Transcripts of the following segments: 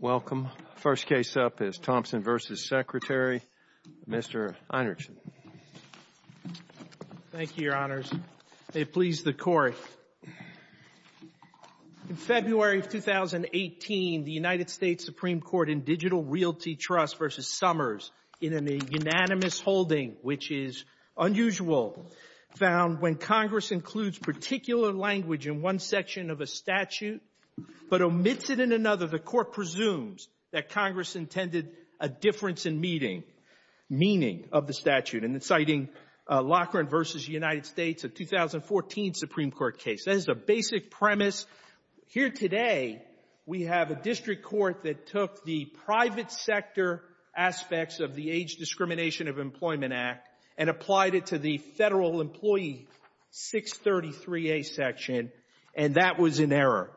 Welcome. First case up is Thompson v. Secretary, Mr. Einertsen. Thank you, Your Honors. May it please the Court, in February of 2018, the United States Supreme Court in Digital Realty Trust v. Summers, in a unanimous holding, which is unusual, found when Congress includes particular language in one section of a statute, but omits it in another, the Court presumes that Congress intended a difference in meaning of the statute, and it's citing Lockhart v. United States, a 2014 Supreme Court case. That is the basic premise. Here today, we have a district court that took the private sector aspects of the Age Discrimination of Employment Act and applied it to the Federal Employee 633A section, and that was in error.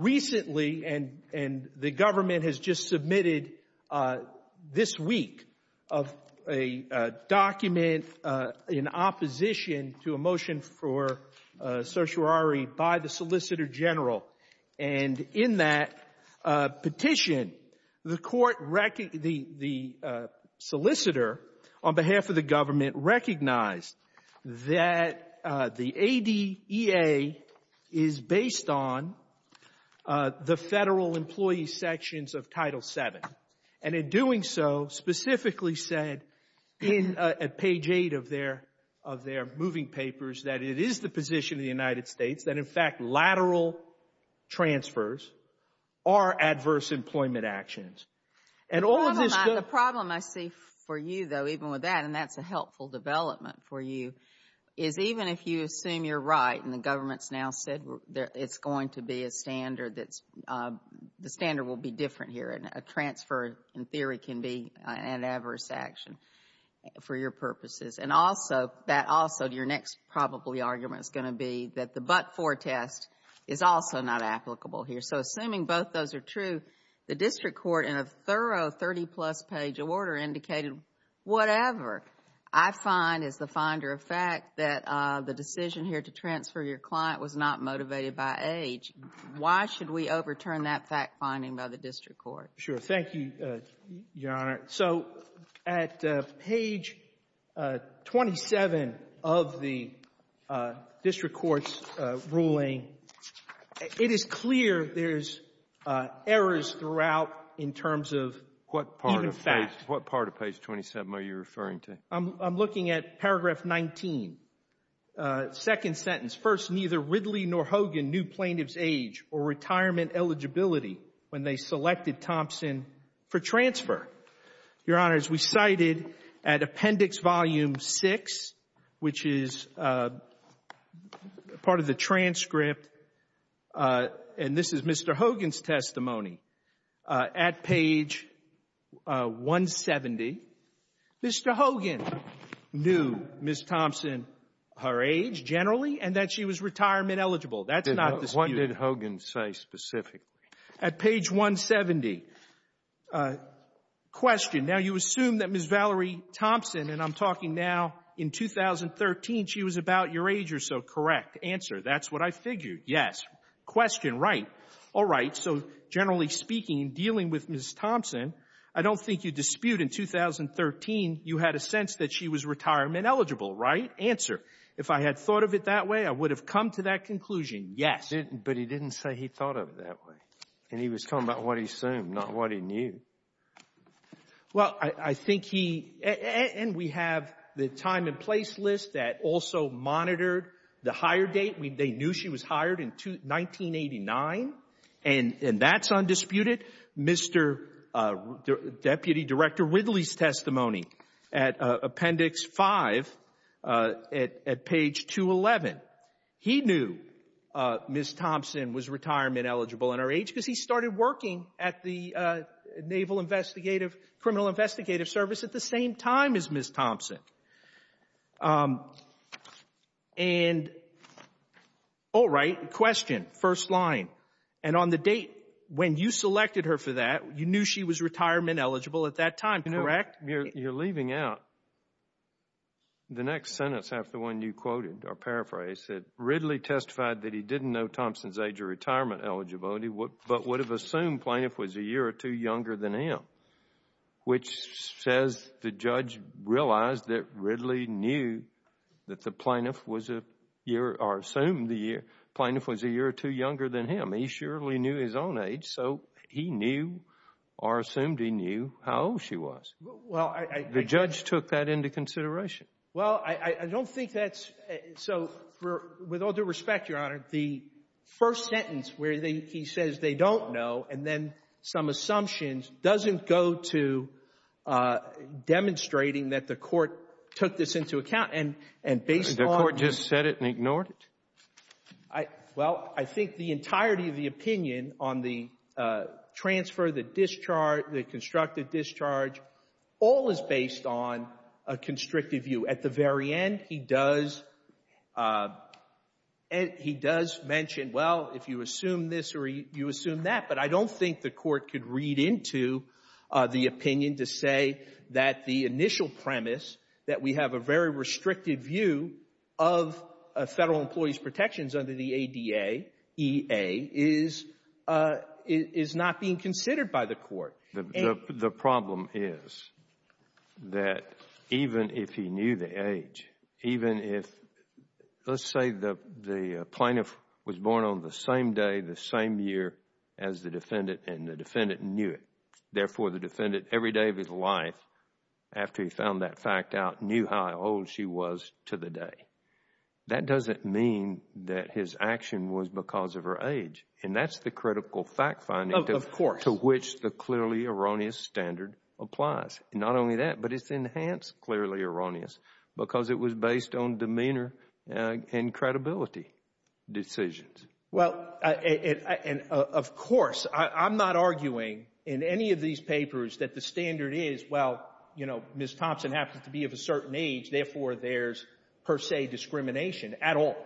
Recently, and the government has just submitted this week, a document in opposition to a motion for certiorari by the Solicitor General, and in that petition, the court — the solicitor, on behalf of the government, recognized that the ADEA is based on the Federal Employee sections of Title VII, and in doing so, specifically said in page 8 of their — of their moving papers that it is the position of the United States that, in fact, lateral transfers are adverse employment actions. And all of this — The problem I see for you, though, even with that, and that's a helpful development for you, is even if you assume you're right, and the government's now said it's going to be a standard that's — the standard will be different here, and a transfer, in theory, can be an adverse action for your purposes, and also — that also, your next, probably, argument is going to be that the but-for test is also not applicable here. So, assuming both those are true, the district court, in a thorough 30-plus page order, indicated whatever. I find, as the finder of fact, that the decision here to transfer your client was not motivated by age. Why should we overturn that fact-finding by the district court? Sure. Thank you, Your Honor. So, at page 27 of the district court's ruling, it is clear there's errors throughout in terms of even fact. What part of page 27 are you referring to? I'm looking at paragraph 19, second sentence. First, neither Ridley nor Hogan knew plaintiff's age or retirement eligibility when they selected Thompson for transfer. Your Honor, as we cited at Appendix Volume 6, which is part of the transcript, and this is Mr. Hogan's testimony, at page 170, Mr. Hogan knew Ms. Thompson, her age, generally, and that she was retirement eligible. That's not disputed. What did Hogan say specifically? At page 170. Question. Now, you assume that Ms. Valerie Thompson, and I'm talking now in 2013, she was about your age or so, correct? Answer. That's what I figured. Yes. Question. Right. All right. So, generally speaking, dealing with Ms. Thompson, I don't think you dispute in 2013 you had a sense that she was retirement eligible, right? Answer. If I had thought of it that way, I would have come to that conclusion. Yes. But he didn't say he thought of it that way, and he was talking about what he assumed, not what he knew. Well, I think he — and we have the time and place list that also monitored the hire date. They knew she was hired in 1989, and that's undisputed. Mr. — Deputy Director Whitley's testimony at Appendix 5 at page 211, he knew Ms. Thompson was retirement eligible in her age because he started working at the Naval Investigative — Criminal Investigative Service at the same time as Ms. Thompson. And all right. Question. First line. And on the date when you selected her for that, you knew she was retirement eligible at that time, correct? You know, you're leaving out the next sentence after when you quoted or paraphrased it. Ridley testified that he didn't know Thompson's age or retirement eligibility, but would have assumed plaintiff was a year or two younger than him, which says the judge realized that Ridley knew that the plaintiff was a year — or assumed the plaintiff was a year or two younger than him. He surely knew his own age, so he knew or assumed he knew how old she was. The judge took that into consideration. Well, I don't think that's — so with all due respect, Your Honor, the first sentence where he says they don't know and then some assumptions doesn't go to demonstrating that the court took this into account. And based on — The court just said it and ignored it. I — well, I think the entirety of the opinion on the transfer, the discharge, the constructive discharge, all is based on a constrictive view. At the very end, he does mention, well, if you assume this or you assume that. But I don't think the court could read into the opinion to say that the initial premise, that we have a very restricted view of a federal employee's protections under the ADA, EA, is not being considered by the court. The problem is that even if he knew the age, even if — let's say the plaintiff was born on the same day, the same year as the defendant, and the defendant knew it. Therefore, the defendant, every day of his life, after he found that fact out, knew how old she was to the day. That doesn't mean that his action was because of her age. And that's the critical fact finding — Of course. — to which the clearly erroneous standard applies. And not only that, but it's enhanced clearly erroneous because it was based on demeanor and credibility decisions. Well, and of course, I'm not arguing in any of these papers that the standard is, well, Ms. Thompson happens to be of a certain age. Therefore, there's, per se, discrimination at all.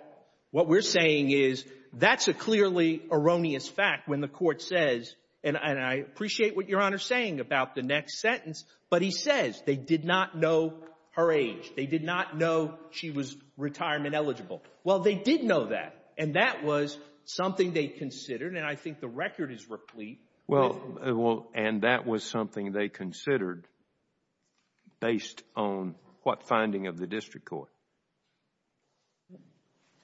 What we're saying is, that's a clearly erroneous fact when the court says — and I appreciate what Your Honor is saying about the next sentence — but he says they did not know her age. They did not know she was retirement eligible. Well, they did know that. And that was something they considered. And I think the record is replete with — based on what finding of the district court.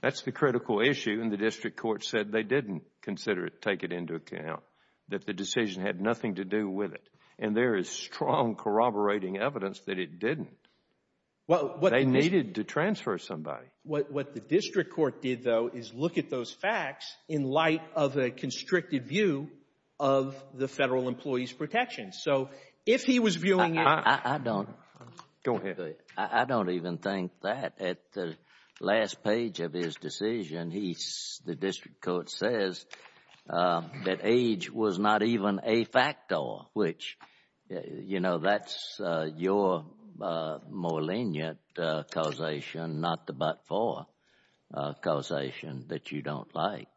That's the critical issue. And the district court said they didn't consider it, take it into account, that the decision had nothing to do with it. And there is strong corroborating evidence that it didn't. They needed to transfer somebody. What the district court did, though, is look at those facts in light of a constricted view of the Federal Employees Protection. So if he was viewing it — I don't — Go ahead. I don't even think that. At the last page of his decision, he's — the district court says that age was not even a factor, which, you know, that's your more lenient causation, not the but-for causation that you don't like.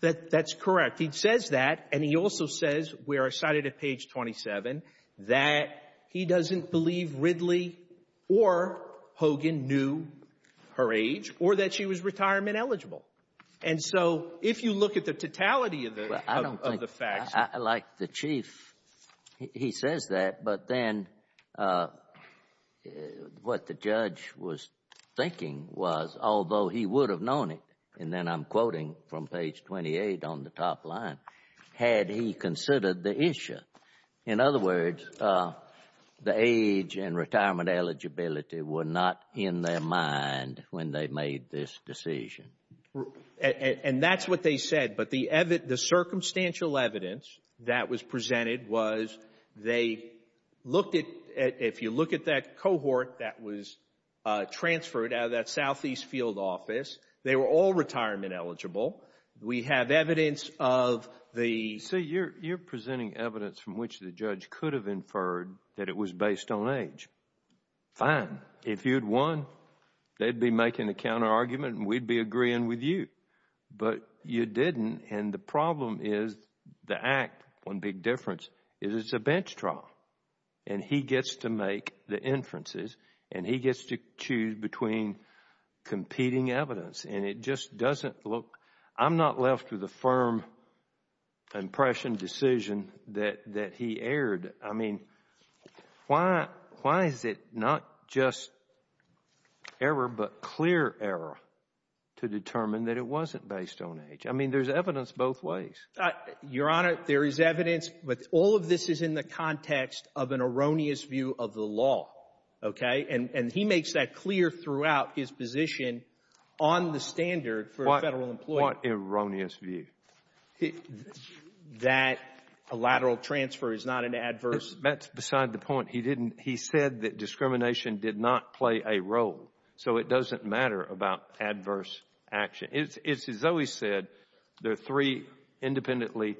That's correct. He says that. And he also says — we are cited at page 27 — that he doesn't believe Ridley or Hogan knew her age or that she was retirement eligible. And so if you look at the totality of the facts — I don't think — like, the Chief, he says that, but then what the judge was thinking was, although he would have known it, and then I'm quoting from page 28 on the top line, had he considered the issue. In other words, the age and retirement eligibility were not in their mind when they made this decision. And that's what they said. But the circumstantial evidence that was presented was they looked at — if you look at that cohort that was transferred out of that southeast field office, they were all retirement eligible. We have evidence of the — See, you're presenting evidence from which the judge could have inferred that it was based on age. Fine. If you'd won, they'd be making a counter-argument and we'd be agreeing with you. But you didn't. And the problem is — the act, one big difference — is it's a bench trial. And he gets to make the inferences and he gets to choose between competing evidence. And it just doesn't look — I'm not left with a firm impression, decision that he erred. I mean, why is it not just error but clear error to determine that it wasn't based on age? I mean, there's evidence both ways. Your Honor, there is evidence. But all of this is in the context of an erroneous view of the law. OK? And he makes that clear throughout his position on the standard for a Federal employee. What erroneous view? That a lateral transfer is not an adverse — That's beside the point. He didn't — he said that discrimination did not play a role. So it doesn't matter about adverse action. It's as though he said there are three independently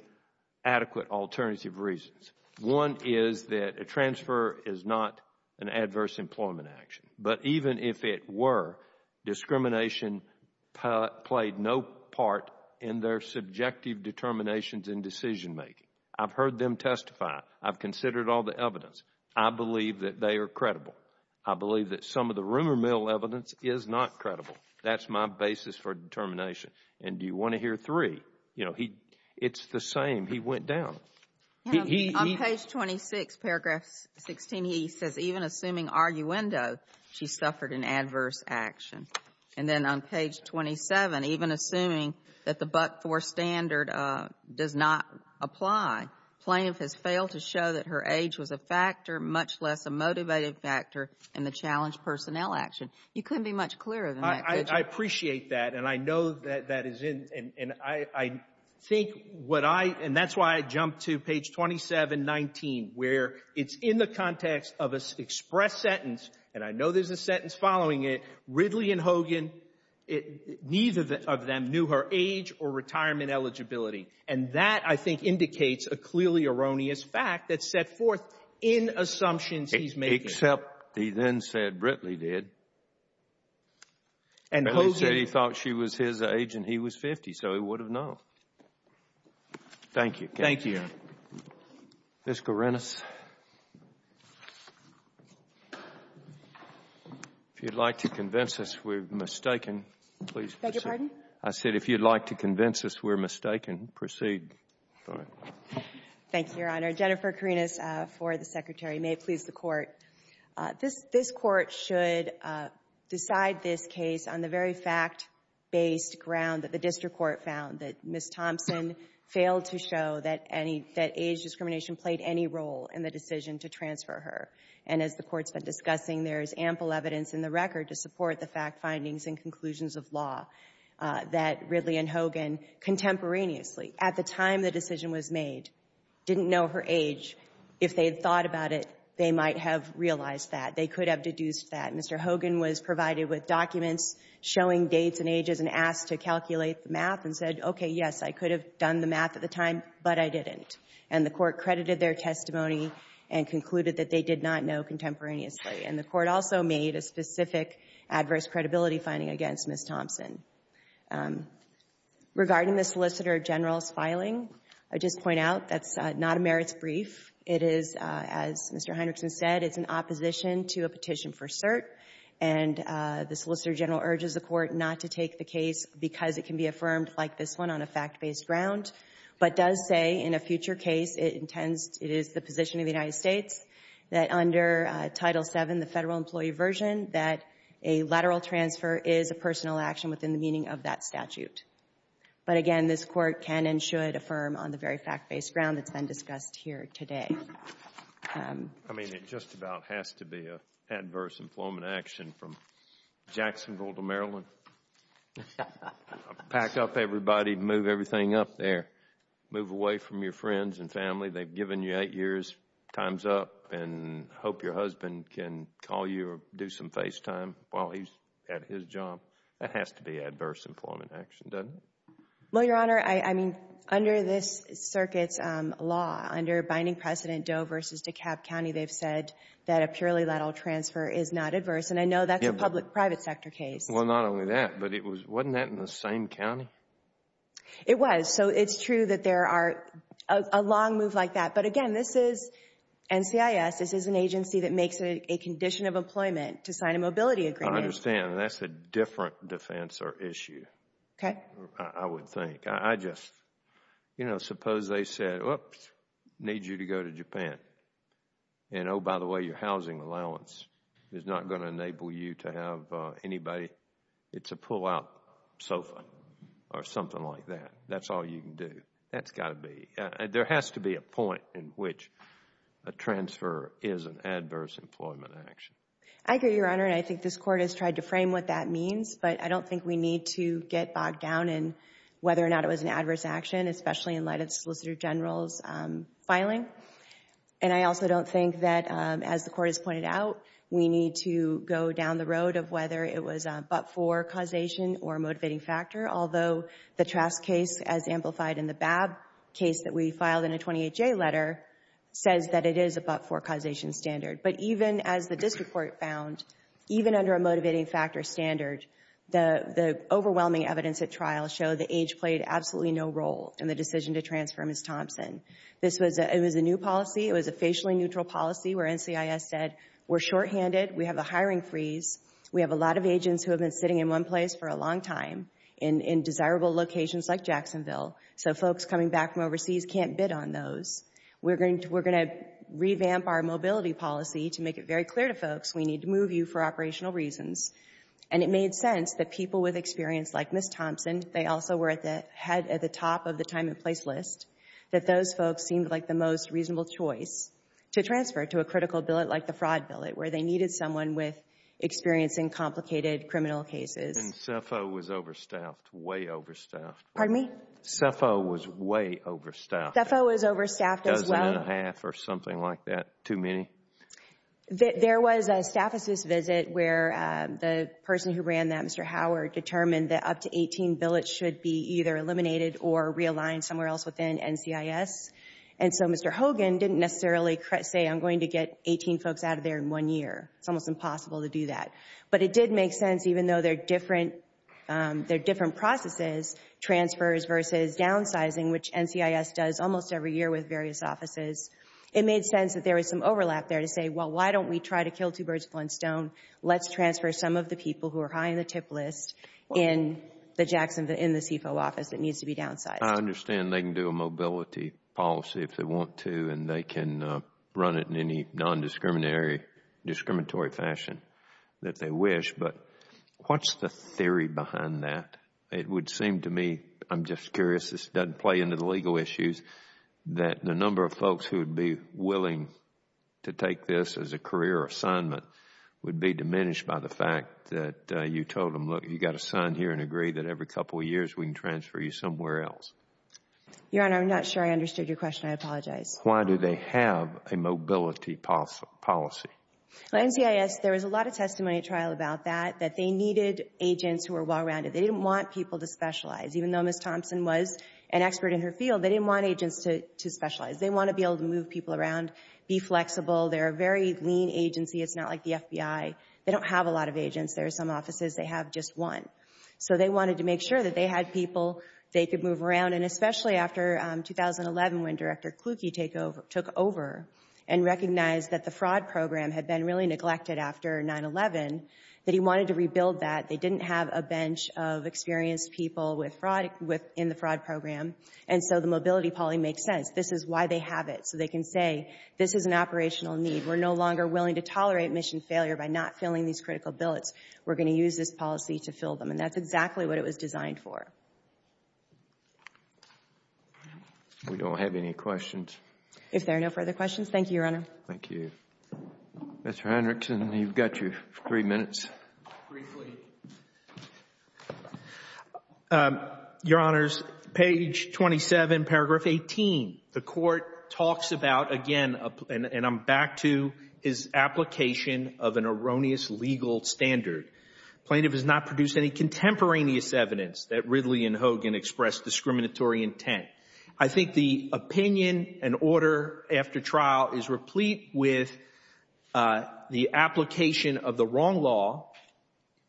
adequate alternative reasons. One is that a transfer is not an adverse employment action. But even if it were, discrimination played no part in their subjective determinations and decision-making. I've heard them testify. I've considered all the evidence. I believe that they are credible. I believe that some of the rumor mill evidence is not credible. That's my basis for determination. And do you want to hear three? You know, it's the same. He went down. On page 26, paragraph 16, he says, even assuming arguendo, she suffered an adverse action. And then on page 27, even assuming that the Buck-Thor standard does not apply, plaintiff has failed to show that her age was a factor, and the challenge personnel action. You couldn't be much clearer than that, could you? I appreciate that. And I know that that is in — and I think what I — and that's why I jumped to page 27, 19, where it's in the context of an express sentence — and I know there's a sentence following it — Ridley and Hogan, neither of them knew her age or retirement eligibility. And that, I think, indicates a clearly erroneous fact that's set forth in assumptions he's making. Except he then said Britley did. And Hogan — But he said he thought she was his age, and he was 50, so he would have known. Thank you. Thank you, Your Honor. Ms. Karinas, if you'd like to convince us we're mistaken, please proceed. Beg your pardon? I said, if you'd like to convince us we're mistaken, proceed. Thank you, Your Honor. Jennifer Karinas for the Secretary. May it please the Court. This Court should decide this case on the very fact-based ground that the District Court found, that Ms. Thompson failed to show that any — that age discrimination played any role in the decision to transfer her. And as the Court's been discussing, there is ample evidence in the record to support the fact findings and conclusions of law that Ridley and Hogan contemporaneously, at the time the decision was made, didn't know her age. If they had thought about it, they might have realized that. They could have deduced that. Mr. Hogan was provided with documents showing dates and ages and asked to calculate the math and said, okay, yes, I could have done the math at the time, but I didn't. And the Court credited their testimony and concluded that they did not know contemporaneously. And the Court also made a specific adverse credibility finding against Ms. Thompson. Regarding the Solicitor General's filing, I would just point out that's not a merits brief. It is, as Mr. Hendrickson said, it's an opposition to a petition for cert. And the Solicitor General urges the Court not to take the case because it can be affirmed like this one on a fact-based ground, but does say in a future case it intends — it is the position of the United States that under Title VII, the Federal Employee Version, that a lateral transfer is a personal action within the meaning of that statute. But again, this Court can and should affirm on the very fact-based ground that's been discussed here today. I mean, it just about has to be an adverse employment action from Jacksonville to Maryland. Pack up everybody, move everything up there. Move away from your friends and family. They've given you eight years. Time's up. And hope your husband can call you or do some FaceTime while he's at his job. That has to be adverse employment action, doesn't it? Well, Your Honor, I mean, under this circuit's law, under binding precedent Doe v. DeKalb County, they've said that a purely lateral transfer is not adverse. And I know that's a public-private sector case. Well, not only that, but wasn't that in the same county? It was. So it's true that there are a long move like that. But again, this is NCIS. This is an employment to sign a mobility agreement. I understand. And that's a different defense or issue, I would think. I just, you know, suppose they said, oops, need you to go to Japan. And oh, by the way, your housing allowance is not going to enable you to have anybody. It's a pull-out sofa or something like that. That's all you can do. That's got to be. There has to be a point in which a transfer is an adverse employment action. I agree, Your Honor. And I think this Court has tried to frame what that means. But I don't think we need to get bogged down in whether or not it was an adverse action, especially in light of the Solicitor General's filing. And I also don't think that, as the Court has pointed out, we need to go down the road of whether it was a but-for causation or a motivating factor, although the Trask case, as amplified in the Babb case that we filed in a 28-J letter, says that it is a but-for causation standard. But even as the District Court found, even under a motivating factor standard, the overwhelming evidence at trial showed the age played absolutely no role in the decision to transfer Ms. Thompson. It was a new policy. It was a facially neutral policy where NCIS said, we're shorthanded. We have a hiring freeze. We have a lot of agents who have been sitting in one place for a long time in desirable locations like Jacksonville. So folks coming back from overseas can't bid on those. We're going to revamp our mobility policy to make it very clear to folks, we need to move you for operational reasons. And it made sense that people with experience like Ms. Thompson, they also were at the top of the time and place list, that those folks seemed like the most reasonable choice to transfer to a critical billet like the fraud billet, where they needed someone with experience in complicated criminal cases. And CEPHO was overstaffed, way overstaffed. Pardon me? CEPHO was way overstaffed. CEPHO was overstaffed as well. A dozen and a half or something like that. Too many? There was a Staff Assist visit where the person who ran that, Mr. Howard, determined that up to 18 billets should be either eliminated or realigned somewhere else within NCIS. And so Mr. Hogan didn't necessarily say, I'm going to get 18 folks out of there in one year. It's almost impossible to do that. But it did make sense, even though they're different, they're different processes, transfers versus downsizing, which NCIS does almost every year with various offices. It made sense that there was some overlap there to say, well, why don't we try to kill two birds with one stone? Let's transfer some of the people who are high in the tip list in the CEPHO office that needs to be downsized. I understand they can do a mobility policy if they want to, and they can run it in any non-discriminatory fashion that they wish. But what's the theory behind that? It would seem to me, I'm just curious, this doesn't play into the legal issues, that the number of folks who would be willing to take this as a career assignment would be diminished by the fact that you told them, look, you've got to sign here and agree that every couple of years we can transfer you somewhere else. Your Honor, I'm not sure I understood your question. I apologize. Why do they have a mobility policy? NCIS, there was a lot of testimony at trial about that, that they needed agents who were well-rounded. They didn't want people to specialize. Even though Ms. Thompson was an expert in her field, they didn't want agents to specialize. They want to be able to move people around, be flexible. They're a very lean agency. It's not like the FBI. They don't have a lot of agents. There are some offices, they have just one. So they wanted to make sure that they had people they could move around. And especially after 2011, when Director Kluge took over and recognized that the fraud program had been really neglected after 9-11, that he wanted to rebuild that. They didn't have a bench of experienced people in the fraud program. And so the mobility policy makes sense. This is why they have it. So they can say, this is an operational need. We're no longer willing to tolerate mission failure by not filling these critical billets. We're going to use this policy to fill them. And that's exactly what it was designed for. We don't have any questions. If there are no further questions, thank you, Your Honor. Thank you. Mr. Hendrickson, you've got your three minutes. Briefly. Your Honors, page 27, paragraph 18. The Court talks about, again, and I'm back to his application of an erroneous legal standard. Plaintiff has not produced any contemporaneous evidence that Ridley and Hogan expressed discriminatory intent. I think the opinion and order after trial is replete with the application of the wrong law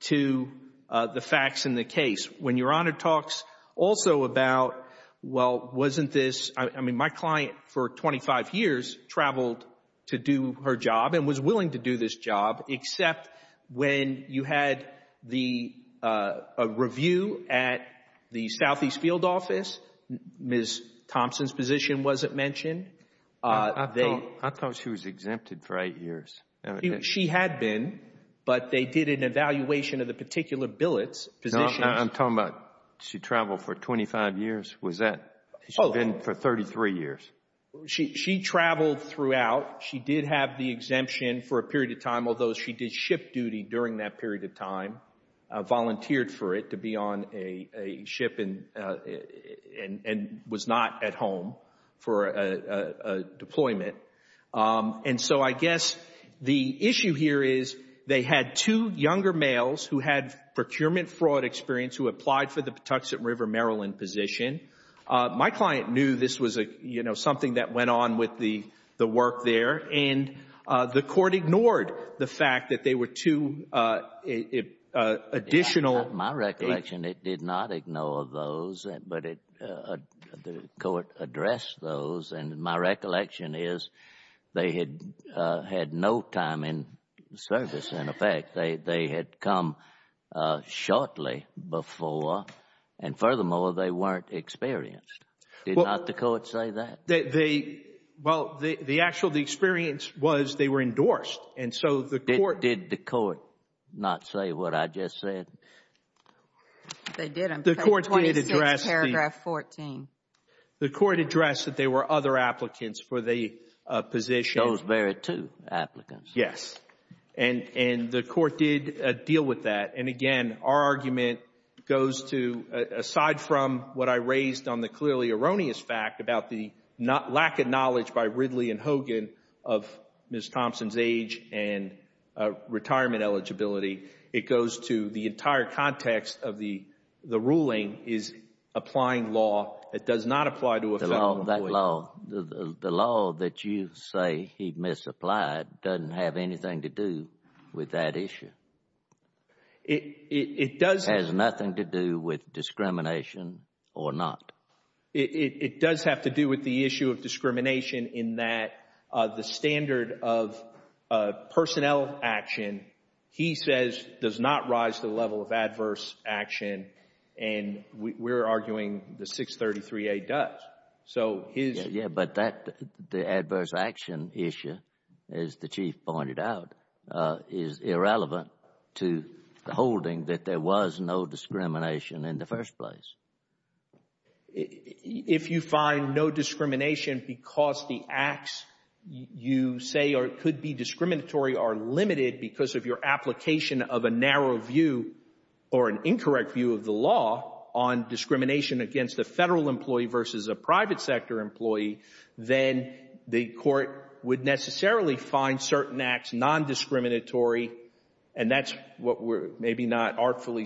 to the facts in the case. When Your Honor talks also about, well, wasn't this, I mean, my client for 25 years traveled to do her job and was willing to do this job, except when you had the review at the Southeast Field Office, Ms. Thompson's position wasn't mentioned. I thought she was exempted for eight years. She had been, but they did an evaluation of the particular billet's position. I'm talking about she traveled for 25 years. Was that, she'd been for 33 years. She traveled throughout. She did have the exemption for a period of time, although she did ship duty during that period of time, volunteered for it to be on a ship and was not at home for a deployment. And so I guess the issue here is they had two younger males who had procurement fraud experience who applied for the Patuxent River, Maryland position. My client knew this was a, you know, something that went on with the work there, and the Court ignored the fact that they were two additional. My recollection, it did not ignore those, but the Court addressed those, and my recollection is they had had no time in service. In effect, they had come shortly before, and furthermore, they weren't experienced. Did not the Court say that? Well, the actual experience was they were endorsed, and so the Court... Did the Court not say what I just said? They didn't. The Court did address the... 26 paragraph 14. The Court addressed that they were other applicants for the position. Those very two applicants. Yes, and the Court did deal with that, and again, our argument goes to, aside from what I raised on the clearly erroneous fact about the lack of knowledge by Ridley and Hogan of Ms. Thompson's and retirement eligibility, it goes to the entire context of the ruling is applying law that does not apply to a Federal employee. The law that you say he misapplied doesn't have anything to do with that issue. It does... Has nothing to do with discrimination or not. It does have to do with the issue of discrimination in that the standard of personnel action, he says, does not rise to the level of adverse action, and we're arguing the 633A does. So, his... Yeah, but that, the adverse action issue, as the Chief pointed out, is irrelevant to the holding that there was no discrimination in the first place. If you find no discrimination because the acts you say could be discriminatory are limited because of your application of a narrow view or an incorrect view of the law on discrimination against a Federal employee versus a private sector employee, then the Court would necessarily find certain acts nondiscriminatory, and that's what we're maybe not artfully...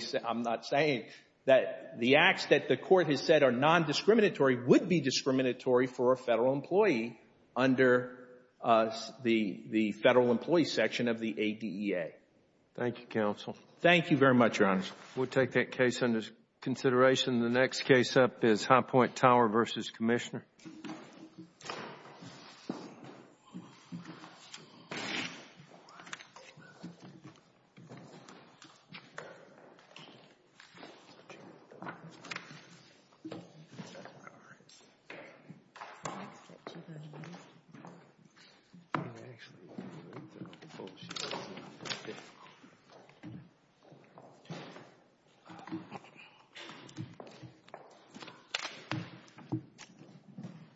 Nondiscriminatory would be discriminatory for a Federal employee under the Federal employee section of the ADEA. Thank you, counsel. Thank you very much, Your Honor. We'll take that case under consideration. The next case up is High Point Tower v. Commissioner.